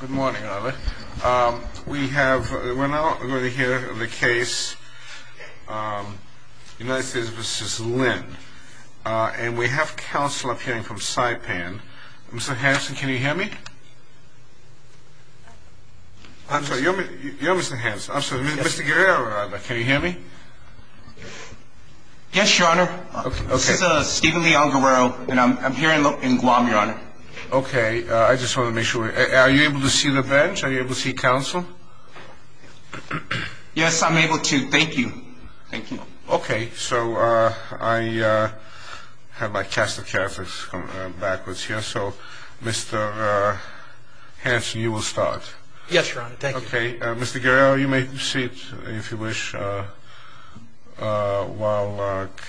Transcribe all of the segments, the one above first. Good morning, Oliver. We have, we're now going to hear the case United States v. Lin. And we have counsel appearing from Saipan. Mr. Hanson, can you hear me? I'm sorry, you're Mr. Hanson. I'm sorry, Mr. Guerrero, can you hear me? Yes, your honor. This is Stephen Leon Guerrero, and I'm here in Guam, your honor. Okay. I just want to make sure. Are you able to see the bench? Are you able to see counsel? Yes, I'm able to. Thank you. Thank you. Okay. So I have my cast of characters backwards here. So, Mr. Hanson, you will start. Yes, your honor. Thank you. Okay. Mr. Guerrero, you may proceed, if you wish, while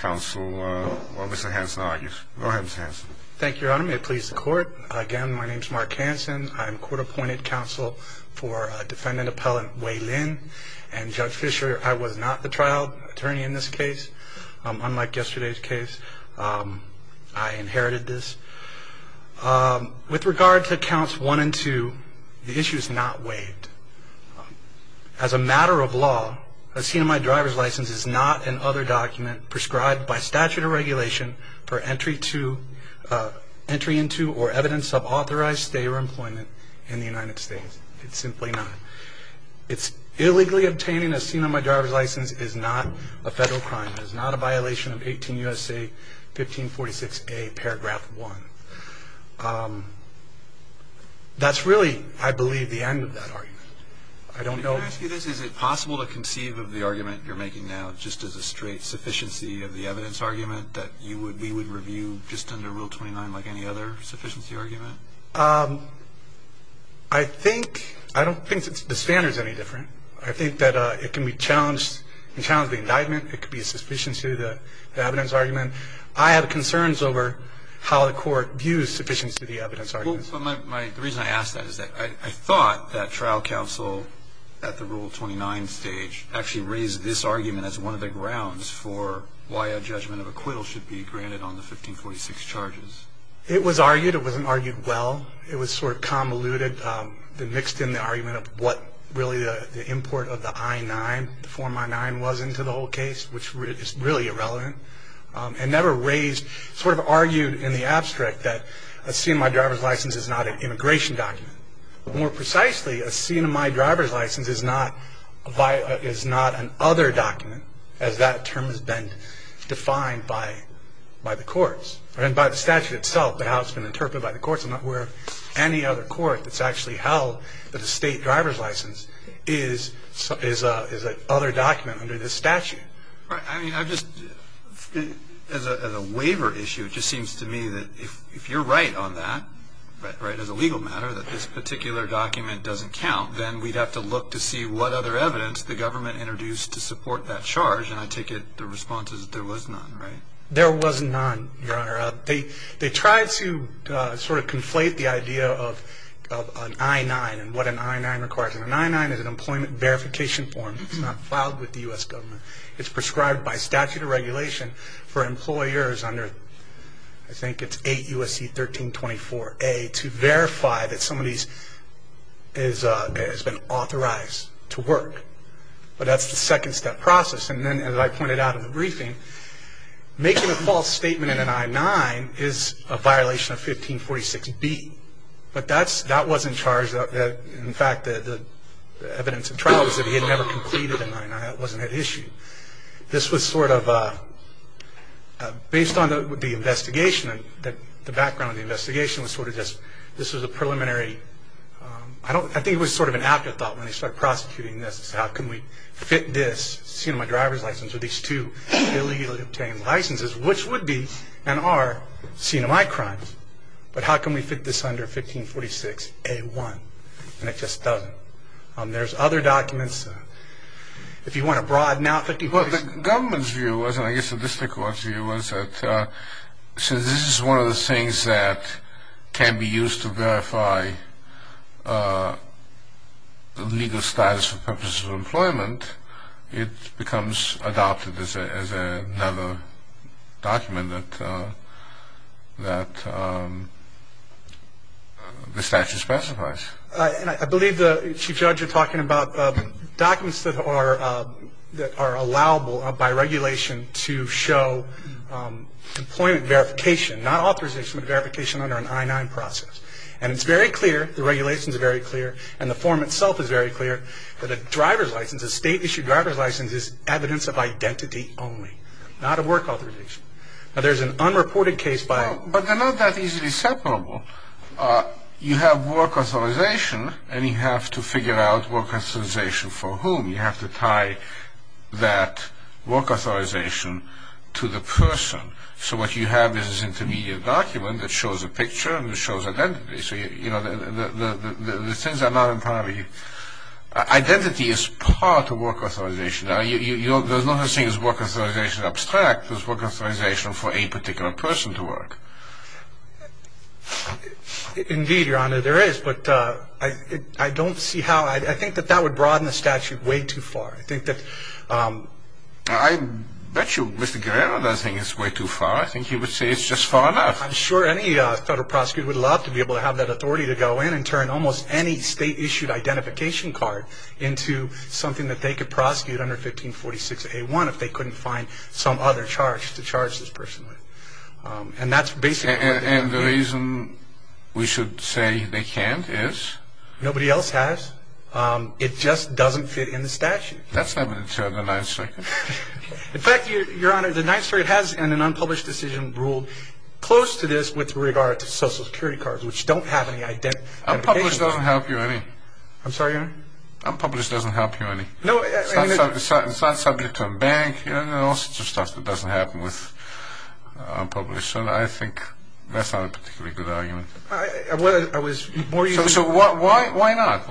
counsel, while Mr. Hanson argues. Go ahead, Mr. Hanson. Thank you, your honor. May it please the court. Again, my name is Mark Hanson. I'm court-appointed counsel for defendant appellant Wei Lin. And Judge Fischer, I was not the trial attorney in this case. Unlike yesterday's case, I inherited this. With regard to counts one and two, the issue is not waived. As a matter of law, a CMI driver's license is not an other document prescribed by statute or regulation for entry into or evidence of authorized stay or employment in the United States. It's simply not. Illegally obtaining a CMI driver's license is not a federal crime. It is not a violation of 18 U.S.A. 1546A paragraph one. That's really, I believe, the end of that argument. I don't know. Can I ask you this? Is it possible to conceive of the argument you're making now just as a straight sufficiency of the evidence argument that you would, we would review just under Rule 29 like any other sufficiency argument? I think, I don't think the standard's any different. I think that it can be challenged, can challenge the indictment. It could be a sufficiency of the evidence argument. I have concerns over how the court views sufficiency of the evidence argument. Well, so my, the reason I ask that is that I thought that trial counsel at the Rule 29 stage actually raised this argument as one of the grounds for why a judgment of acquittal should be granted on the 1546 charges. It was argued. It wasn't argued well. It was sort of convoluted and mixed in the argument of what really the import of the I-9, the Form I-9 was into the whole case, which is really irrelevant, and never raised, sort of argued in the abstract that a CMI driver's license is not an immigration document. More precisely, a CMI driver's license is not an other document, as that term has been defined by the courts and by the statute itself, but how it's been interpreted by the courts. I'm not aware of any other court that's actually held that a state driver's license is an other document under this statute. I mean, I just, as a waiver issue, it just seems to me that if you're right on that, as a legal matter, that this particular document doesn't count, then we'd have to look to see what other evidence the government introduced to support that charge, and I take it the response is there was none, right? There was none, Your Honor. They tried to sort of conflate the idea of an I-9 and what an I-9 requires. An I-9 is an employment verification form. It's not filed with the U.S. government. It's prescribed by statute of regulation for employers under, I think it's 8 U.S.C. 1324A, to verify that somebody has been authorized to work, but that's the second step process. And then, as I pointed out in the briefing, making a false statement in an I-9 is a violation of 1546B, but that wasn't charged. In fact, the evidence in trial was that he had never completed an I-9. That wasn't at issue. This was sort of, based on the investigation, the background of the investigation was sort of just, this was a preliminary, I think it was sort of an afterthought when they started prosecuting this, is how can we fit this CMI driver's license with these two illegally obtained licenses, which would be and are CMI crimes, but how can we fit this under 1546A1? And it just doesn't. There's other documents. If you want to broaden out. Well, the government's view was, and I guess the district court's view was, that since this is one of the things that can be used to verify the legal status for purposes of employment, it becomes adopted as another document that the statute specifies. I believe, Chief Judge, you're talking about documents that are allowable by regulation to show employment verification, not authorization, but verification under an I-9 process. And it's very clear, the regulations are very clear, and the form itself is very clear, that a driver's license, a state-issued driver's license, is evidence of identity only, not of work authorization. Now, there's an unreported case by... But they're not that easily separable. You have work authorization, and you have to figure out work authorization for whom. You have to tie that work authorization to the person. So what you have is this intermediate document that shows a picture and it shows identity. So, you know, the things are not entirely... Identity is part of work authorization. There's not a thing as work authorization abstract. There's work authorization for a particular person to work. Indeed, Your Honor, there is, but I don't see how... I think that that would broaden the statute way too far. I think that... I bet you Mr. Guerrero doesn't think it's way too far. I think he would say it's just far enough. I'm sure any federal prosecutor would love to be able to have that authority to go in and turn almost any state-issued identification card into something that they could prosecute under 1546A1 if they couldn't find some other charge to charge this person with. And that's basically... And the reason we should say they can't is... Nobody else has. It just doesn't fit in the statute. That's not going to deter the Ninth Circuit. In fact, Your Honor, the Ninth Circuit has, in an unpublished decision, ruled close to this with regard to Social Security cards, which don't have any identification... Unpublished doesn't help you any. I'm sorry, Your Honor? Unpublished doesn't help you any. It's not subject to a bank. There are all sorts of stuff that doesn't happen with unpublished. So I think that's not a particularly good argument. I was more used to... So why not?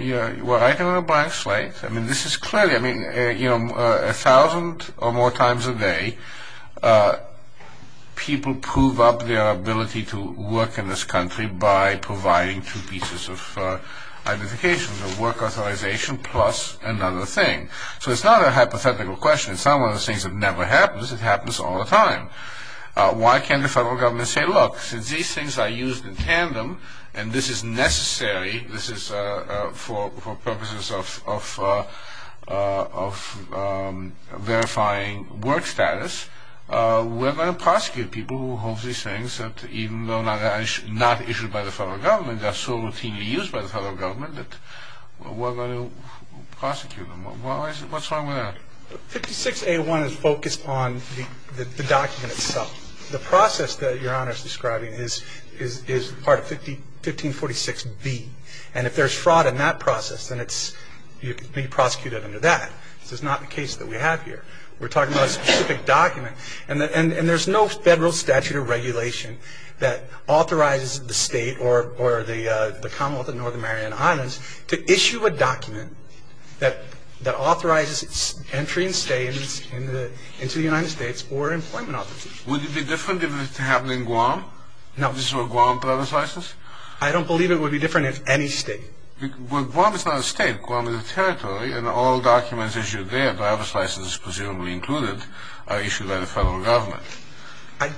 You're writing on a blank slate. This is clearly... A thousand or more times a day, people prove up their ability to work in this country by providing two pieces of identification, the work authorization plus another thing. So it's not a hypothetical question. It's not one of those things that never happens. It happens all the time. Why can't the federal government say, Well, look, since these things are used in tandem and this is necessary, this is for purposes of verifying work status, we're going to prosecute people who hold these things that, even though they're not issued by the federal government, they're so routinely used by the federal government that we're going to prosecute them. What's wrong with that? 56A1 is focused on the document itself. The process that Your Honor is describing is part of 1546B. And if there's fraud in that process, then you can be prosecuted under that. This is not the case that we have here. We're talking about a specific document. And there's no federal statute or regulation that authorizes the state or the Commonwealth of Northern Mariana Islands to issue a document that authorizes entry and stay into the United States or employment authorization. Would it be different if it happened in Guam? No. If this were a Guam driver's license? I don't believe it would be different in any state. Well, Guam is not a state. Guam is a territory, and all documents issued there, driver's licenses presumably included, are issued by the federal government. I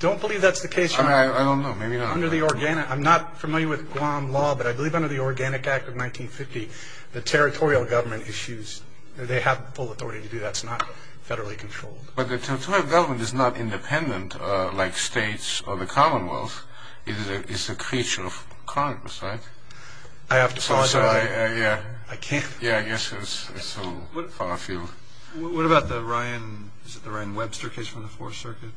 don't believe that's the case, Your Honor. I don't know. Maybe not. I'm not familiar with Guam law, but I believe under the Organic Act of 1950, the territorial government issues, they have full authority to do that. It's not federally controlled. But the territorial government is not independent like states or the Commonwealth. It's a creature of Congress, right? I have to apologize. Yeah. I can't. Yeah, I guess it's so far afield. What about the Ryan Webster case from the Fourth Circuit?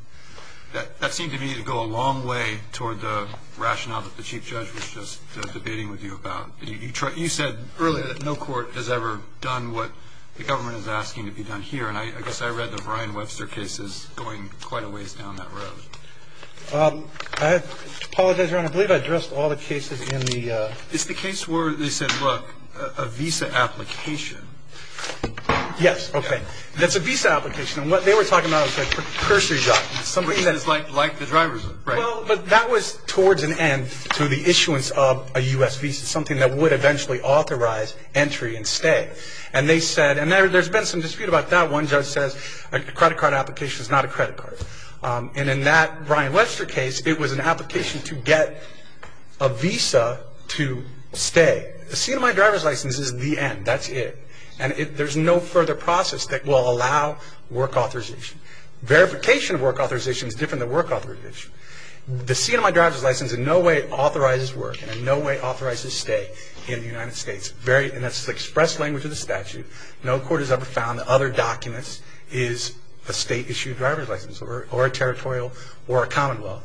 That seemed to me to go a long way toward the rationale that the Chief Judge was just debating with you about. You said earlier that no court has ever done what the government is asking to be done here, and I guess I read that the Ryan Webster case is going quite a ways down that road. I apologize, Your Honor. I believe I addressed all the cases in the... It's the case where they said, look, a visa application. Yes. Okay. That's a visa application, and what they were talking about was a cursory job. Something that is like the driver's, right? Well, but that was towards an end to the issuance of a U.S. visa, something that would eventually authorize entry and stay. And they said, and there's been some dispute about that. One judge says a credit card application is not a credit card. And in that Ryan Webster case, it was an application to get a visa to stay. A C&MI driver's license is the end. That's it. And there's no further process that will allow work authorization. Verification of work authorization is different than work authorization. The C&MI driver's license in no way authorizes work, and in no way authorizes stay in the United States. And that's the express language of the statute. No court has ever found that other documents is a state-issued driver's license or a territorial or a common law.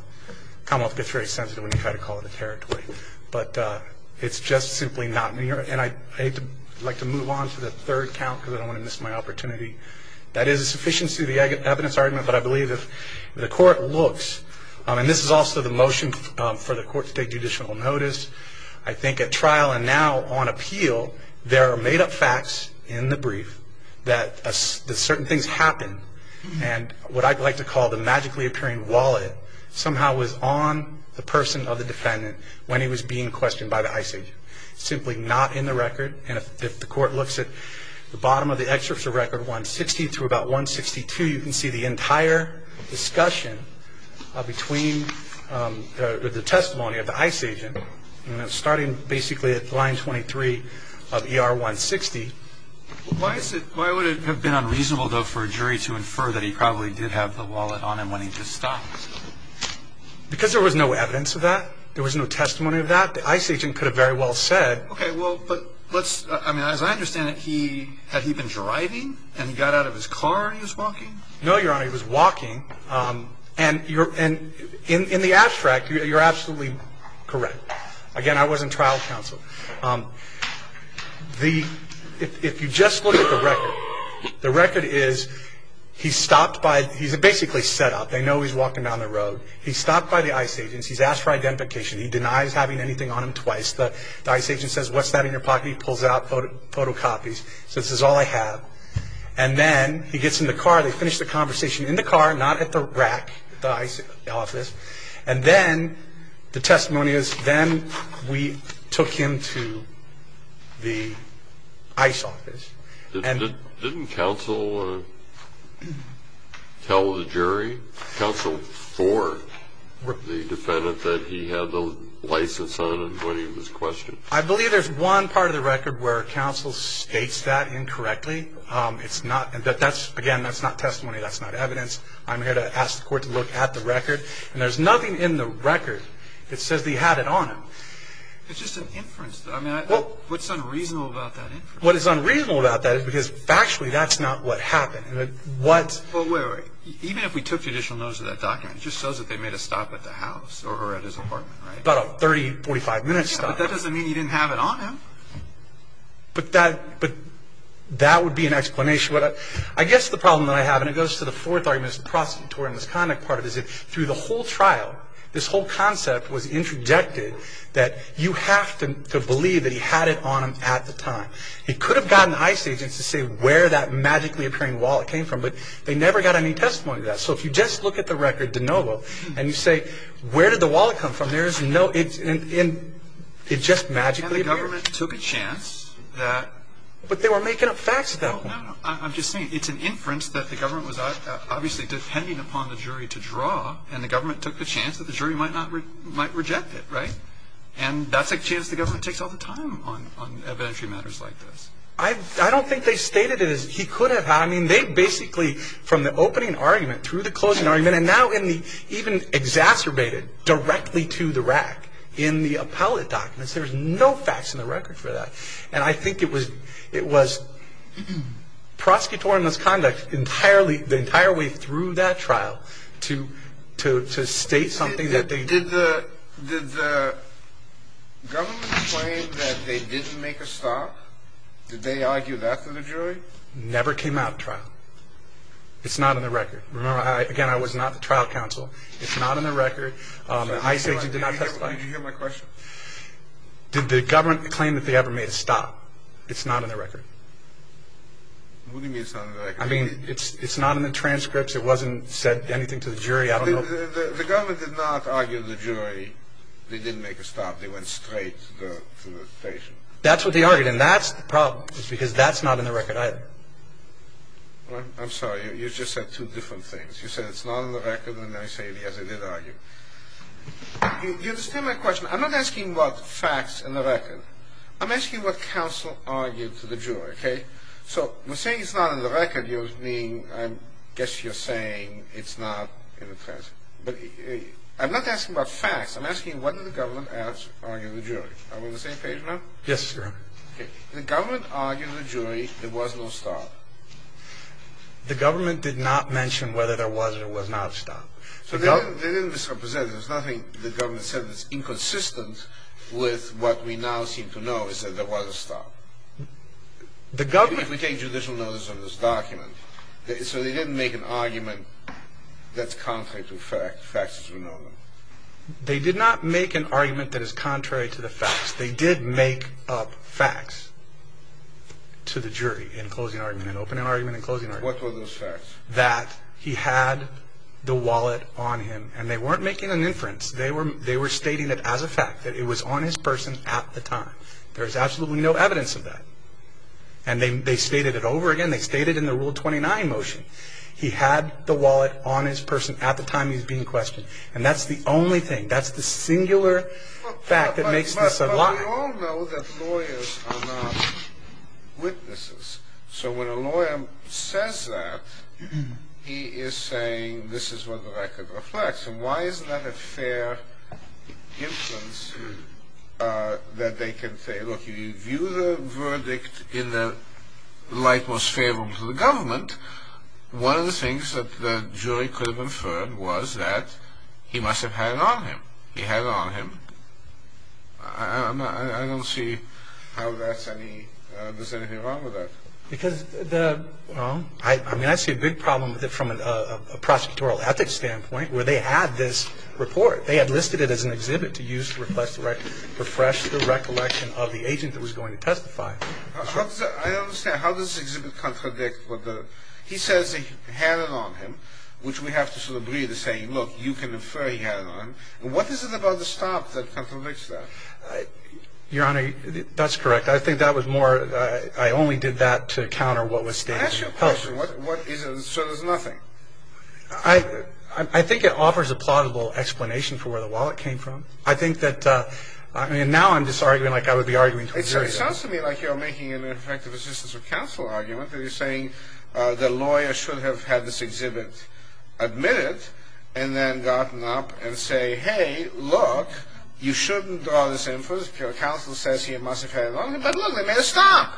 Common law gets very sensitive when you try to call it a territory. But it's just simply not. And I'd like to move on to the third count because I don't want to miss my opportunity. That is a sufficiency of the evidence argument, but I believe if the court looks, and this is also the motion for the court to take judicial notice, I think at trial and now on appeal, there are made-up facts in the brief that certain things happened. And what I'd like to call the magically-appearing wallet somehow was on the person of the defendant when he was being questioned by the ICE agent. Simply not in the record. And if the court looks at the bottom of the excerpt of record 160 through about 162, you can see the entire discussion between the testimony of the ICE agent, starting basically at line 23 of ER 160. Why would it have been unreasonable, though, for a jury to infer that he probably did have the wallet on him when he just stopped? Because there was no evidence of that. There was no testimony of that. The ICE agent could have very well said. Okay, well, as I understand it, had he been driving and he got out of his car and he was walking? No, Your Honor, he was walking. And in the abstract, you're absolutely correct. Again, I wasn't trial counsel. If you just look at the record, the record is he's basically set up. They know he's walking down the road. He's stopped by the ICE agent. He's asked for identification. He denies having anything on him twice. The ICE agent says, what's that in your pocket? He pulls out photocopies. So this is all I have. And then he gets in the car. They finish the conversation in the car, not at the rack at the ICE office. And then the testimony is then we took him to the ICE office. Didn't counsel tell the jury? Counsel for the defendant that he had the license on when he was questioned? I believe there's one part of the record where counsel states that incorrectly. It's not that that's, again, that's not testimony. That's not evidence. I'm here to ask the court to look at the record. And there's nothing in the record that says he had it on him. It's just an inference. I mean, what's unreasonable about that inference? What is unreasonable about that is because factually that's not what happened. Well, wait, wait. Even if we took judicial notice of that document, it just shows that they made a stop at the house or at his apartment, right? About a 30, 45-minute stop. But that doesn't mean he didn't have it on him. But that would be an explanation. I guess the problem that I have, and it goes to the fourth argument, the prosecutorial misconduct part of it, is that through the whole trial, this whole concept was interjected that you have to believe that he had it on him at the time. It could have gotten ICE agents to say where that magically appearing wallet came from, but they never got any testimony to that. So if you just look at the record de novo and you say where did the wallet come from, there is no – it just magically appeared. And the government took a chance that – But they were making up facts at that point. No, no, no. I'm just saying it's an inference that the government was obviously depending upon the jury to draw, and the government took the chance that the jury might reject it, right? And that's a chance the government takes all the time on evidentiary matters like this. I don't think they stated it as he could have. I mean, they basically, from the opening argument through the closing argument, and now even exacerbated directly to the rack in the appellate documents. There's no facts in the record for that. And I think it was prosecutorial misconduct the entire way through that trial to state something that they – Did the government claim that they didn't make a stop? Did they argue that to the jury? Never came out of trial. It's not in the record. Remember, again, I was not the trial counsel. It's not in the record. The ICE agent did not testify. Did you hear my question? Did the government claim that they ever made a stop? It's not in the record. What do you mean it's not in the record? I mean, it's not in the transcripts. It wasn't said anything to the jury. The government did not argue to the jury they didn't make a stop. They went straight to the patient. That's what they argued, and that's the problem, because that's not in the record either. I'm sorry. You just said two different things. You said it's not in the record, and then I say, yes, they did argue. Do you understand my question? I'm not asking what facts are in the record. I'm asking what counsel argued to the jury, okay? So we're saying it's not in the record. I guess you're saying it's not in the transcript. But I'm not asking about facts. I'm asking what did the government argue to the jury. Are we on the same page now? Yes, Your Honor. Okay. The government argued to the jury there was no stop. The government did not mention whether there was or was not a stop. So they didn't misrepresent it. There's nothing the government said that's inconsistent with what we now seem to know is that there was a stop. Even if we take judicial notice on this document, so they didn't make an argument that's contrary to facts as we know them? They did not make an argument that is contrary to the facts. They did make up facts to the jury in closing argument, in opening argument and closing argument. What were those facts? That he had the wallet on him, and they weren't making an inference. They were stating it as a fact, that it was on his person at the time. There is absolutely no evidence of that. And they stated it over again. They stated it in the Rule 29 motion. He had the wallet on his person at the time he was being questioned. And that's the only thing. That's the singular fact that makes this a lie. But we all know that lawyers are not witnesses. So when a lawyer says that, he is saying this is what the record reflects. And why isn't that a fair inference that they can say, look, if you view the verdict in the light most favorable to the government, one of the things that the jury could have inferred was that he must have had it on him. He had it on him. I don't see how that's any, there's anything wrong with that. I mean, I see a big problem with it from a prosecutorial ethics standpoint, where they had this report. They had listed it as an exhibit to use to refresh the recollection of the agent that was going to testify. I don't understand. How does the exhibit contradict what the, he says he had it on him, which we have to sort of agree to saying, look, you can infer he had it on him. And what is it about the stop that contradicts that? Your Honor, that's correct. I think that was more, I only did that to counter what was stated. I ask you a question. So there's nothing? I think it offers a plaudible explanation for where the wallet came from. I think that, I mean, now I'm just arguing like I would be arguing to a jury. It sounds to me like you're making an ineffective assistance of counsel argument, that you're saying the lawyer should have had this exhibit admitted, and then gotten up and say, hey, look, you shouldn't draw this inference. Your counsel says he must have had it on him. But look, they made a stop.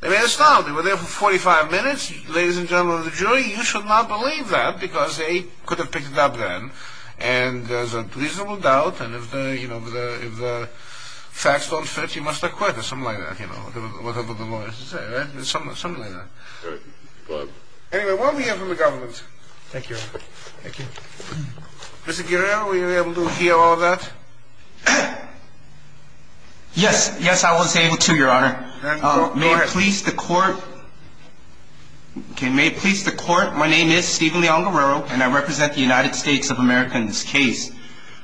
They made a stop. They were there for 45 minutes. Ladies and gentlemen of the jury, you should not believe that, because they could have picked it up then, and there's a reasonable doubt, and if the facts don't fit, you must acquit or something like that, whatever the lawyers say, right? Something like that. All right. Go ahead. Anyway, what we have from the government. Thank you, Your Honor. Thank you. Mr. Guerrero, were you able to hear all that? Yes. Yes, I was able to, Your Honor. May it please the court. Okay. May it please the court. My name is Steven Leong Guerrero, and I represent the United States of America in this case.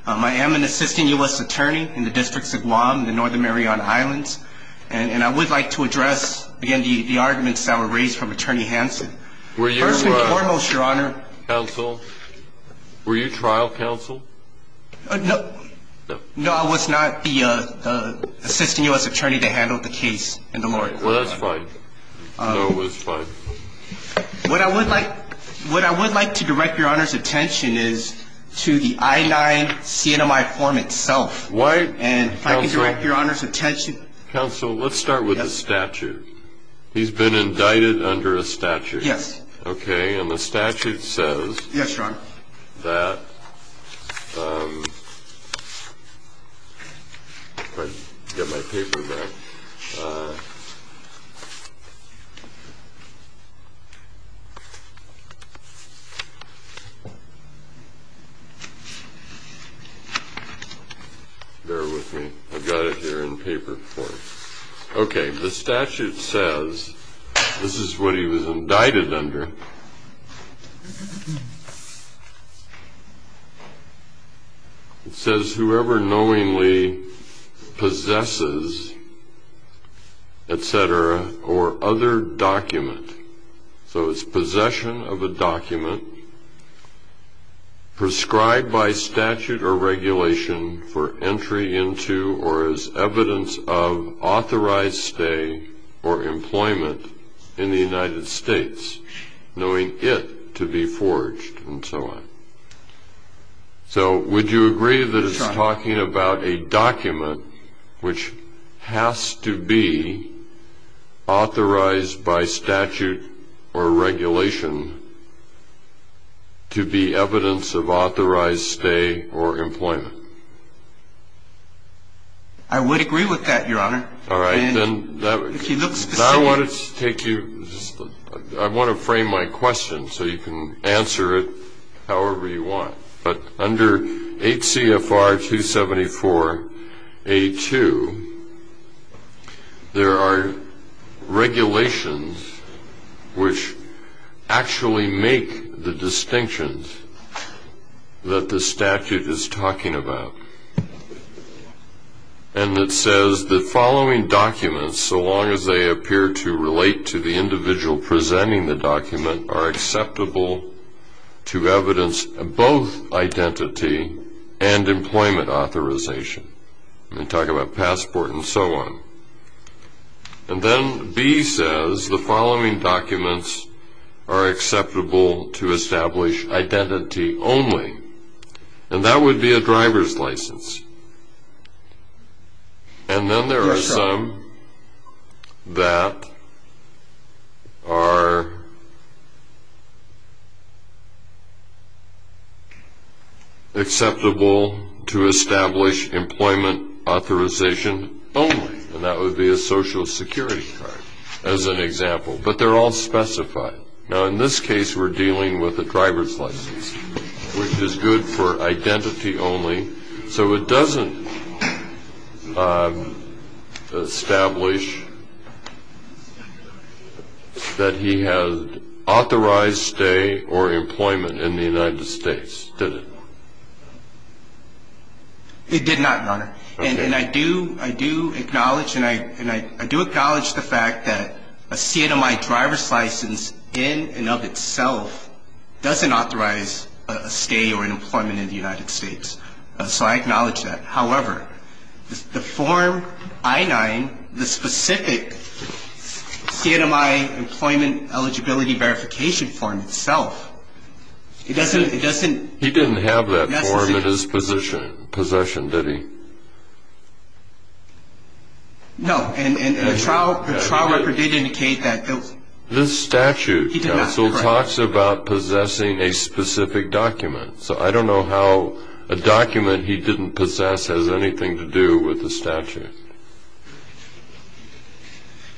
I am an assistant U.S. attorney in the districts of Guam and the Northern Mariana Islands, and I would like to address, again, the arguments that were raised from Attorney Hanson. First and foremost, Your Honor. Counsel, were you trial counsel? No. No. No, I was not the assistant U.S. attorney that handled the case and the lawyer. Well, that's fine. No, it was fine. What I would like to direct Your Honor's attention is to the I-9 CNMI form itself. Why? And if I could direct Your Honor's attention. Counsel, let's start with the statute. Yes. He's been indicted under a statute. Yes. Okay, and the statute says that if I can get my paper back. Bear with me. I've got it here in paper form. Okay, the statute says this is what he was indicted under. It says whoever knowingly possesses, etc., or other document, so it's possession of a document prescribed by statute or regulation for entry into or as evidence of authorized stay or employment in the United States, knowing it to be forged, and so on. So would you agree that it's talking about a document which has to be authorized by statute or regulation to be evidence of authorized stay or employment? I would agree with that, Your Honor. All right, then. Now I want to take you, I want to frame my question so you can answer it however you want. But under HCFR 274A2, there are regulations which actually make the distinctions that the statute is talking about. And it says the following documents, so long as they appear to relate to the individual presenting the document, are acceptable to evidence of both identity and employment authorization. I'm going to talk about passport and so on. And then B says the following documents are acceptable to establish identity only, and that would be a driver's license. And then there are some that are acceptable to establish employment authorization only, and that would be a Social Security card as an example, but they're all specified. Now, in this case, we're dealing with a driver's license, which is good for identity only. So it doesn't establish that he has authorized stay or employment in the United States, does it? It did not, Your Honor. Okay. And I do acknowledge the fact that a CNMI driver's license in and of itself doesn't authorize a stay or an employment in the United States. So I acknowledge that. However, the form I-9, the specific CNMI employment eligibility verification form itself, it doesn't necessarily. He didn't possess the form in his possession, did he? No, and the trial record did indicate that. This statute, counsel, talks about possessing a specific document. So I don't know how a document he didn't possess has anything to do with the statute.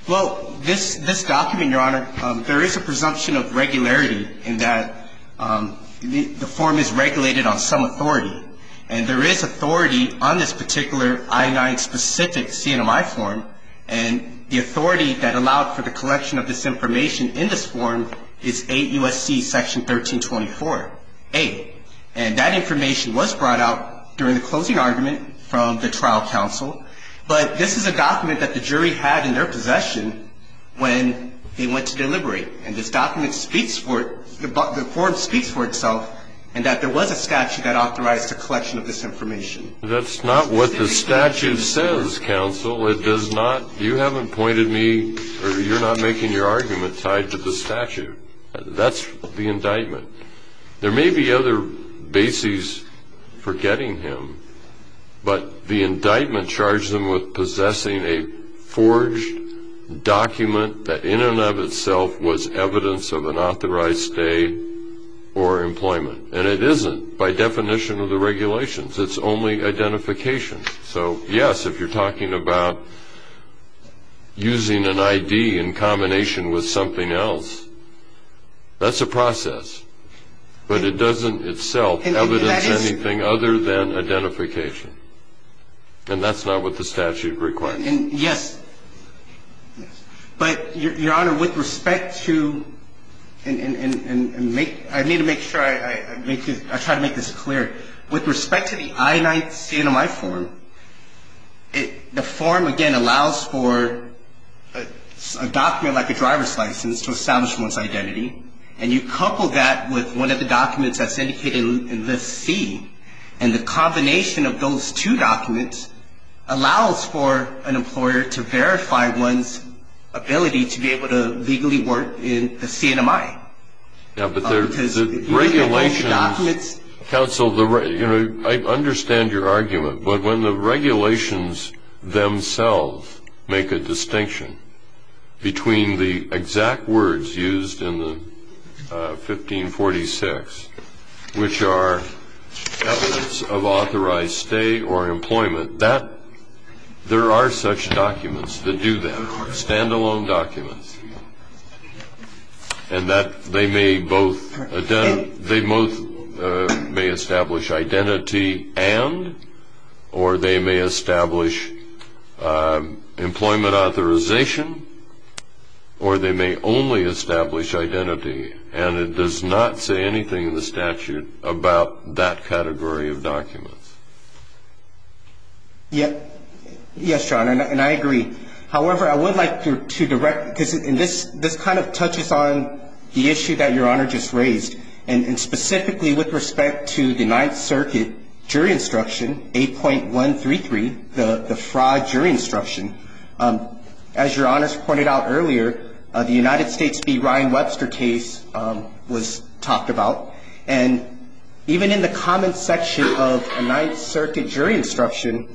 Well, this document, Your Honor, there is a presumption of regularity in that the form is regulated on some authority, and there is authority on this particular I-9 specific CNMI form, and the authority that allowed for the collection of this information in this form is 8 U.S.C. Section 1324-8. And that information was brought out during the closing argument from the trial counsel, but this is a document that the jury had in their possession when they went to deliberate. And this document speaks for it. The form speaks for itself in that there was a statute that authorized the collection of this information. That's not what the statute says, counsel. It does not. You haven't pointed me, or you're not making your argument tied to the statute. That's the indictment. There may be other bases for getting him, but the indictment charged him with possessing a forged document that in and of itself was evidence of an authorized stay or employment. And it isn't by definition of the regulations. It's only identification. So, yes, if you're talking about using an I.D. in combination with something else, that's a process, but it doesn't itself evidence anything other than identification. And that's not what the statute requires. Yes. But, Your Honor, with respect to, and I need to make sure I try to make this clear. With respect to the I-9 CMI form, the form, again, allows for a document like a driver's license to establish one's identity, and you couple that with one of the documents that's indicated in the C, and the combination of those two documents allows for an employer to verify one's ability to be able to legally work in the CMI. Yeah, but the regulations, counsel, you know, I understand your argument, but when the regulations themselves make a distinction between the exact words used in the 1546, which are evidence of authorized stay or employment, there are such documents that do that, stand-alone documents, and that they may both establish identity and, or they may establish employment authorization, or they may only establish identity, and it does not say anything in the statute about that category of documents. Yes, Your Honor, and I agree. However, I would like to direct, because this kind of touches on the issue that Your Honor just raised, and specifically with respect to the Ninth Circuit jury instruction, 8.133, the fraud jury instruction. As Your Honors pointed out earlier, the United States v. Ryan Webster case was talked about, and even in the comments section of the Ninth Circuit jury instruction,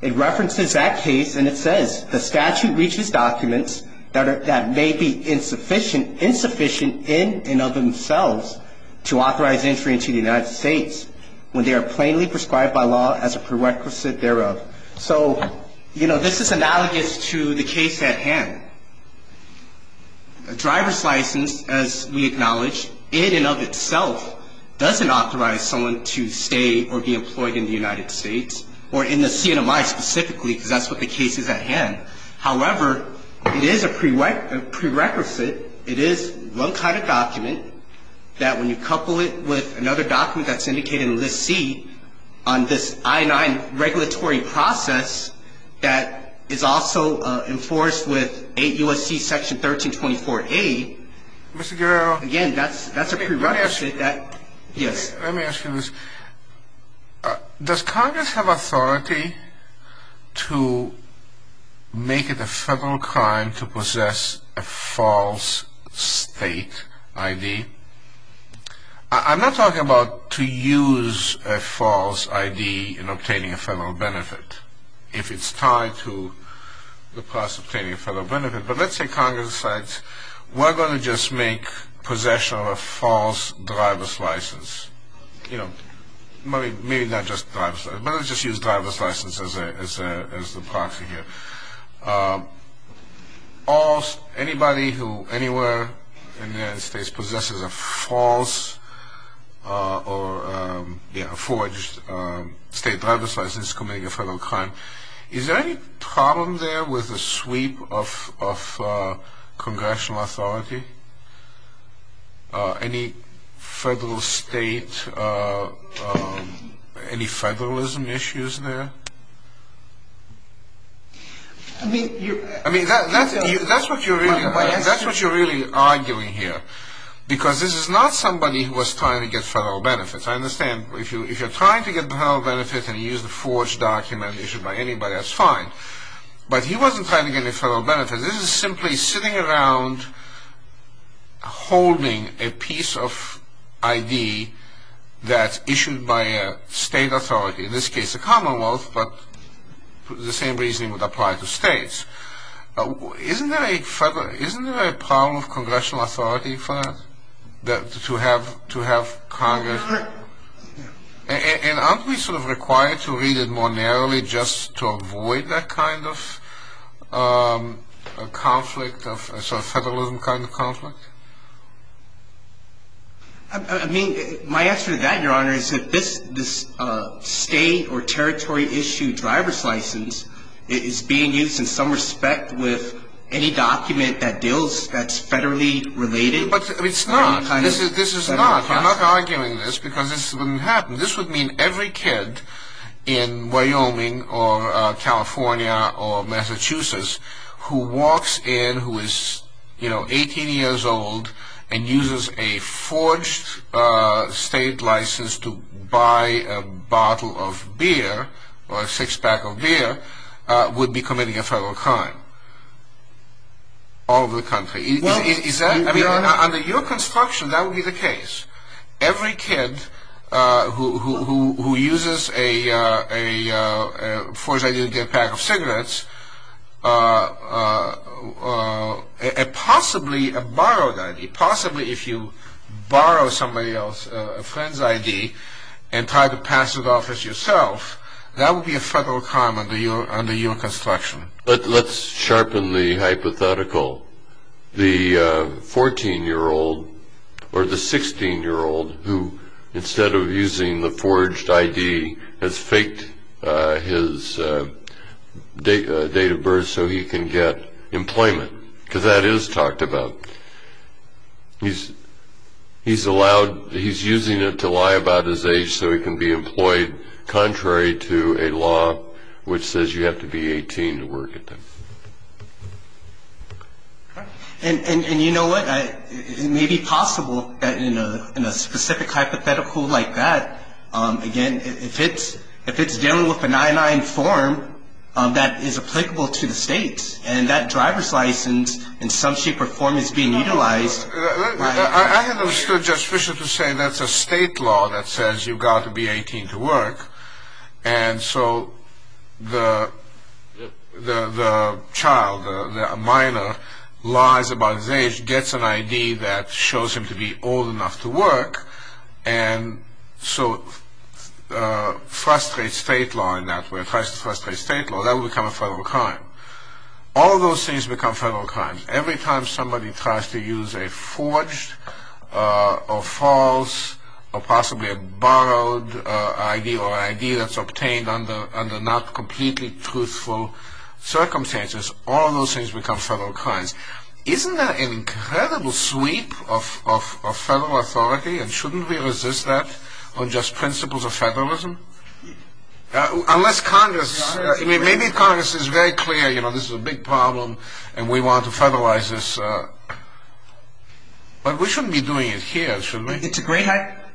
it references that case, and it says, the statute reaches documents that may be insufficient in and of themselves to authorize entry into the United States when they are plainly prescribed by law as a prerequisite thereof. So, you know, this is analogous to the case at hand. A driver's license, as we acknowledge, in and of itself doesn't authorize someone to stay or be employed in the United States, or in the CNMI specifically, because that's what the case is at hand. However, it is a prerequisite, it is one kind of document that when you couple it with another document that's indicated in List C on this I-9 regulatory process that is also enforced with 8 U.S.C. Section 1324A, again, that's a prerequisite. Let me ask you this. Does Congress have authority to make it a federal crime to possess a false state ID? I'm not talking about to use a false ID in obtaining a federal benefit, if it's tied to the process of obtaining a federal benefit, but let's say Congress decides we're going to just make possession of a false driver's license. You know, maybe not just driver's license, but let's just use driver's license as the proxy here. Anybody who anywhere in the United States possesses a false or forged state driver's license can make it a federal crime. Is there any problem there with the sweep of congressional authority? Any federal state, any federalism issues there? I mean, that's what you're really arguing here, because this is not somebody who was trying to get federal benefits. I understand if you're trying to get federal benefits and use the forged document issued by anybody, that's fine, but he wasn't trying to get any federal benefits. This is simply sitting around holding a piece of ID that's issued by a state authority, in this case the Commonwealth, but the same reasoning would apply to states. Isn't there a problem of congressional authority for that, to have Congress? And aren't we sort of required to read it more narrowly just to avoid that kind of conflict, a sort of federalism kind of conflict? I mean, my answer to that, Your Honor, is that this state or territory issue driver's license is being used in some respect with any document that deals, that's federally related. But it's not. This is not. You're not arguing this, because this wouldn't happen. This would mean every kid in Wyoming or California or Massachusetts who walks in, who is, you know, 18 years old and uses a forged state license to buy a bottle of beer or a six-pack of beer would be committing a federal crime. All over the country. Is that, I mean, under your construction, that would be the case. Every kid who uses a forged ID to get a pack of cigarettes, possibly a borrowed ID, possibly if you borrow somebody else's friend's ID and try to pass it off as yourself, that would be a federal crime under your construction. Let's sharpen the hypothetical. The 14-year-old or the 16-year-old who, instead of using the forged ID, has faked his date of birth so he can get employment, because that is talked about. He's allowed, he's using it to lie about his age so he can be employed, contrary to a law which says you have to be 18 to work at that. And you know what? It may be possible that in a specific hypothetical like that, again, if it's dealing with an I-9 form that is applicable to the state, and that driver's license in some shape or form is being utilized. I haven't understood Judge Fischer to say that's a state law that says you've got to be 18 to work, and so the child, the minor, lies about his age, gets an ID that shows him to be old enough to work, and so frustrates state law in that way, tries to frustrate state law. That would become a federal crime. All those things become federal crimes. Every time somebody tries to use a forged or false or possibly a borrowed ID or an ID that's obtained under not completely truthful circumstances, all those things become federal crimes. Isn't that an incredible sweep of federal authority, and shouldn't we resist that on just principles of federalism? Unless Congress, I mean, maybe Congress is very clear, you know, this is a big problem, and we want to federalize this. But we shouldn't be doing it here, should we? It's a great hypothetical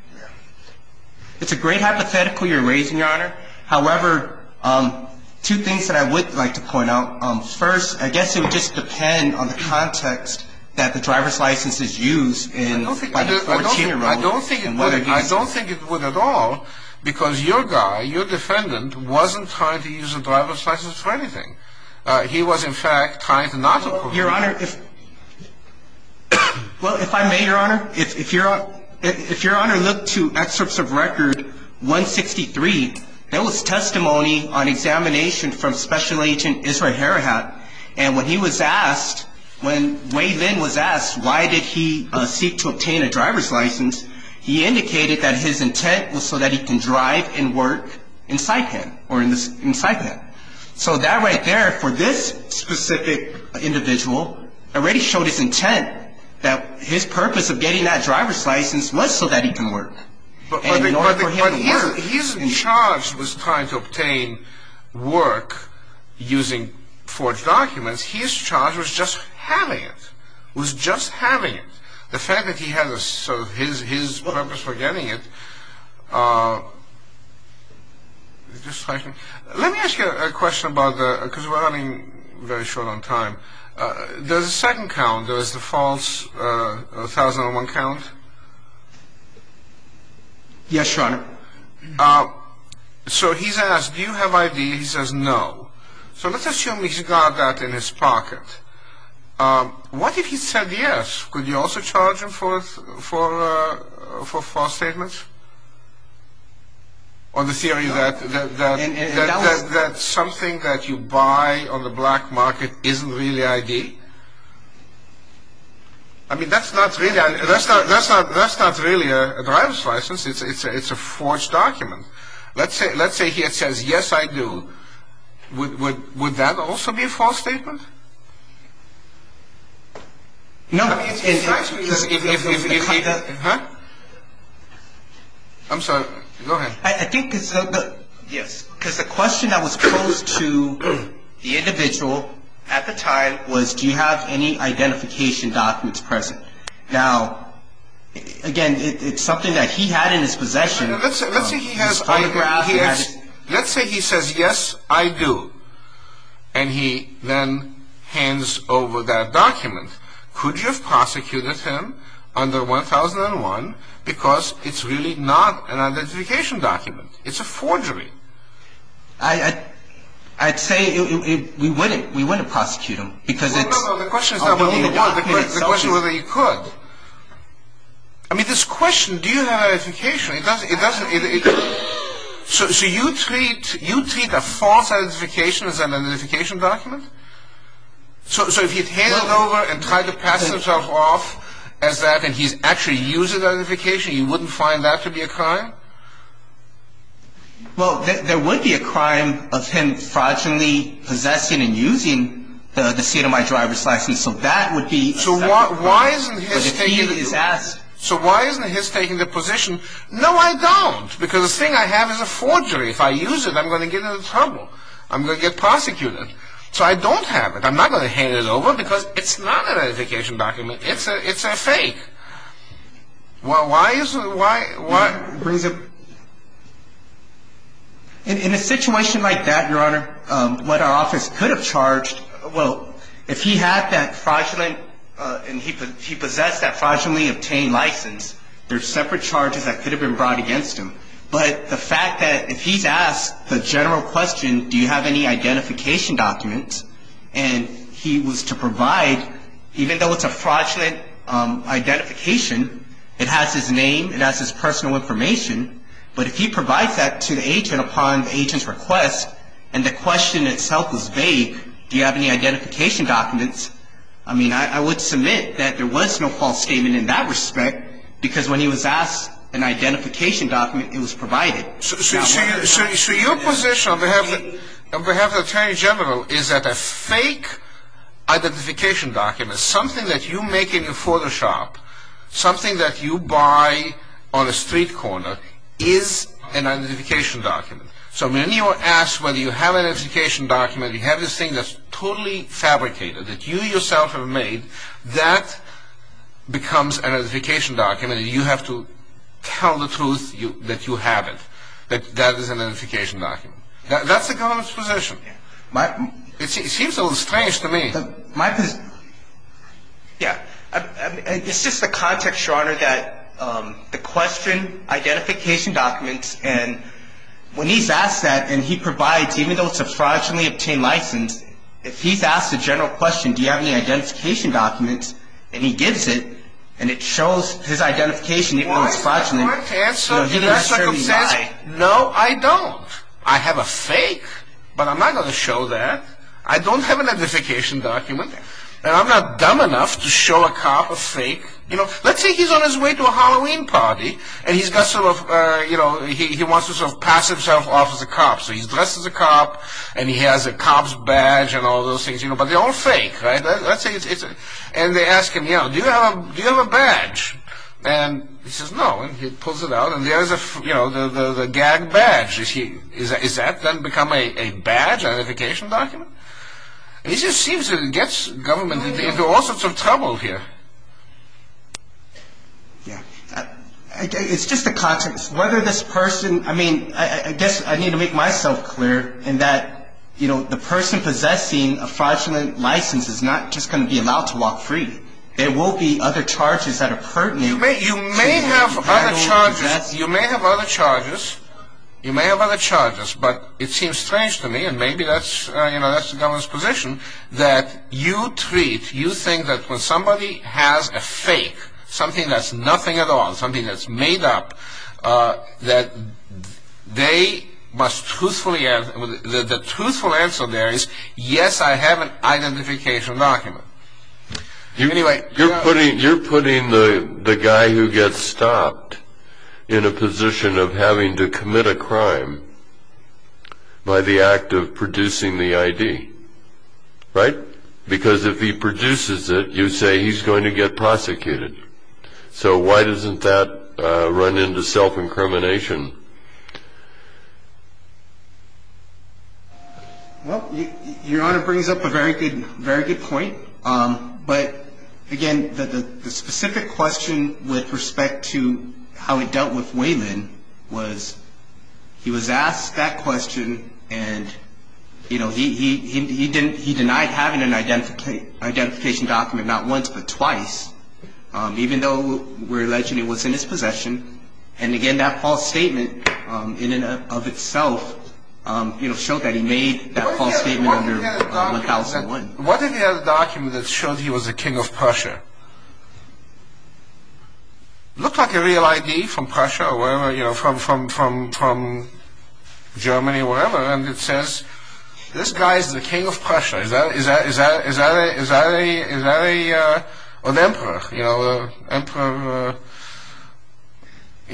you're raising, Your Honor. However, two things that I would like to point out. First, I guess it would just depend on the context that the driver's license is used by the 14-year-old. I don't think it would at all because your guy, your defendant, wasn't trying to use a driver's license for anything. He was, in fact, trying to not approve it. Well, Your Honor, if I may, Your Honor, if Your Honor looked to excerpts of Record 163, there was testimony on examination from Special Agent Israel Harahat, and when he was asked, when Wade Lynn was asked why did he seek to obtain a driver's license, he indicated that his intent was so that he can drive and work in Saipan or in Saipan. So that right there for this specific individual already showed his intent, that his purpose of getting that driver's license was so that he can work. But his charge was trying to obtain work using forged documents. His charge was just having it, was just having it. The fact that he had his purpose for getting it. Let me ask you a question about the, because we're running very short on time. There's a second count, there's the false 1001 count. Yes, Your Honor. So he's asked, do you have ID? He says no. So let's assume he's got that in his pocket. What if he said yes? Could you also charge him for false statements? Or the theory that something that you buy on the black market isn't really ID? I mean, that's not really a driver's license. It's a forged document. Let's say he says, yes, I do. Would that also be a false statement? No. I'm sorry, go ahead. I think it's, yes, because the question that was posed to the individual at the time was, do you have any identification documents present? Now, again, it's something that he had in his possession. Let's say he has, let's say he says, yes, I do. And he then hands over that document. Could you have prosecuted him under 1001 because it's really not an identification document? It's a forgery. I'd say we wouldn't prosecute him because it's... No, no, no, the question is not whether you would. The question is whether you could. I mean, this question, do you have identification, it doesn't... So you treat a false identification as an identification document? So if he'd handed over and tried to pass himself off as that and he's actually using the identification, you wouldn't find that to be a crime? Well, there would be a crime of him fraudulently possessing and using the state-of-the-art driver's license. So that would be... So why isn't his taking the position? No, I don't. Because the thing I have is a forgery. If I use it, I'm going to get into trouble. I'm going to get prosecuted. So I don't have it. I'm not going to hand it over because it's not an identification document. It's a fake. Why is it... In a situation like that, Your Honor, what our office could have charged, well, if he had that fraudulently and he possessed that fraudulently obtained license, there are separate charges that could have been brought against him. But the fact that if he's asked the general question, do you have any identification documents, and he was to provide, even though it's a fraudulent identification, it has his name, it has his personal information, but if he provides that to the agent upon the agent's request and the question itself is vague, do you have any identification documents, I mean, I would submit that there was no false statement in that respect because when he was asked an identification document, it was provided. So your position on behalf of the Attorney General is that a fake identification document, something that you make in your photo shop, something that you buy on a street corner is an identification document. So when you are asked whether you have an identification document, you have this thing that's totally fabricated that you yourself have made, that becomes an identification document, and you have to tell the truth that you have it, that that is an identification document. That's the government's position. It seems a little strange to me. Yeah. It's just the context, Your Honor, that the question, identification documents, and when he's asked that, and he provides, even though it's a fraudulently obtained license, if he's asked a general question, do you have any identification documents, and he gives it, and it shows his identification, even though it's fraudulently, he doesn't necessarily lie. No, I don't. I have a fake, but I'm not going to show that. I don't have an identification document, and I'm not dumb enough to show a cop a fake. You know, let's say he's on his way to a Halloween party, and he's got sort of, you know, he wants to sort of pass himself off as a cop, so he's dressed as a cop, and he has a cop's badge and all those things, you know, but they're all fake, right? And they ask him, you know, do you have a badge? And he says no, and he pulls it out, and there is a, you know, the gag badge. Is that then become a badge, an identification document? It just seems that it gets government into all sorts of trouble here. Yeah. It's just the context. Whether this person, I mean, I guess I need to make myself clear in that, you know, the person possessing a fraudulent license is not just going to be allowed to walk free. There will be other charges that are pertinent. You may have other charges. You may have other charges. You may have other charges, but it seems strange to me, and maybe that's, you know, that's the government's position, that you treat, you think that when somebody has a fake, something that's nothing at all, something that's made up, that they must truthfully, the truthful answer there is, yes, I have an identification document. Anyway. You're putting the guy who gets stopped in a position of having to commit a crime by the act of producing the ID, right? Because if he produces it, you say he's going to get prosecuted. So why doesn't that run into self-incrimination? Well, Your Honor brings up a very good point. But, again, the specific question with respect to how he dealt with Wayman was, he was asked that question and, you know, he denied having an identification document, not once but twice, even though we're alleging it was in his possession. And, again, that false statement in and of itself, you know, showed that he made that false statement under 1001. What if he had a document that showed he was the king of Prussia? It looked like a real ID from Prussia or wherever, you know, from Germany or wherever, and it says, this guy's the king of Prussia. Is that an emperor, you know,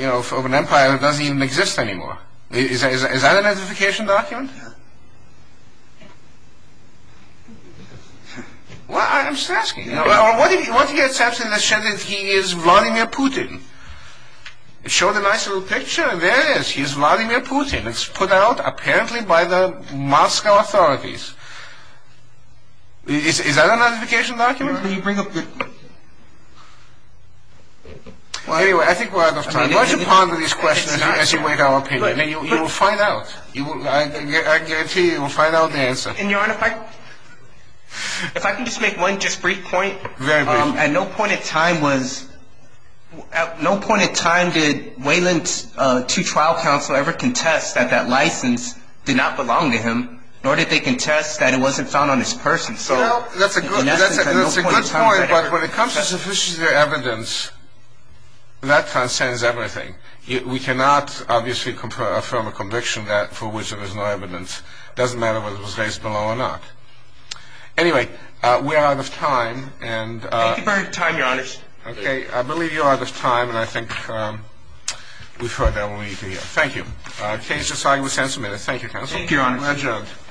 of an empire that doesn't even exist anymore? Is that an identification document? Well, I'm just asking. What if he had something that said that he is Vladimir Putin? It showed a nice little picture, and there it is. He is Vladimir Putin. It's put out, apparently, by the Moscow authorities. Is that an identification document? Anyway, I think we're out of time. Why don't you ponder these questions as you make our opinion, and you will find out. I guarantee you we'll find out the answer. And, Your Honor, if I can just make one just brief point. Very brief. At no point in time did Wayland's two trial counsel ever contest that that license did not belong to him, nor did they contest that it wasn't found on his person. Well, that's a good point, but when it comes to sufficient evidence, that transcends everything. We cannot, obviously, affirm a conviction for which there is no evidence. It doesn't matter whether it was raised below or not. Anyway, we are out of time. Thank you for your time, Your Honors. Okay, I believe you're out of time, and I think we've heard that we'll leave you here. Thank you. The case is signed. We'll see you in a minute. Thank you, Counsel. Thank you, Your Honors. Adjourned.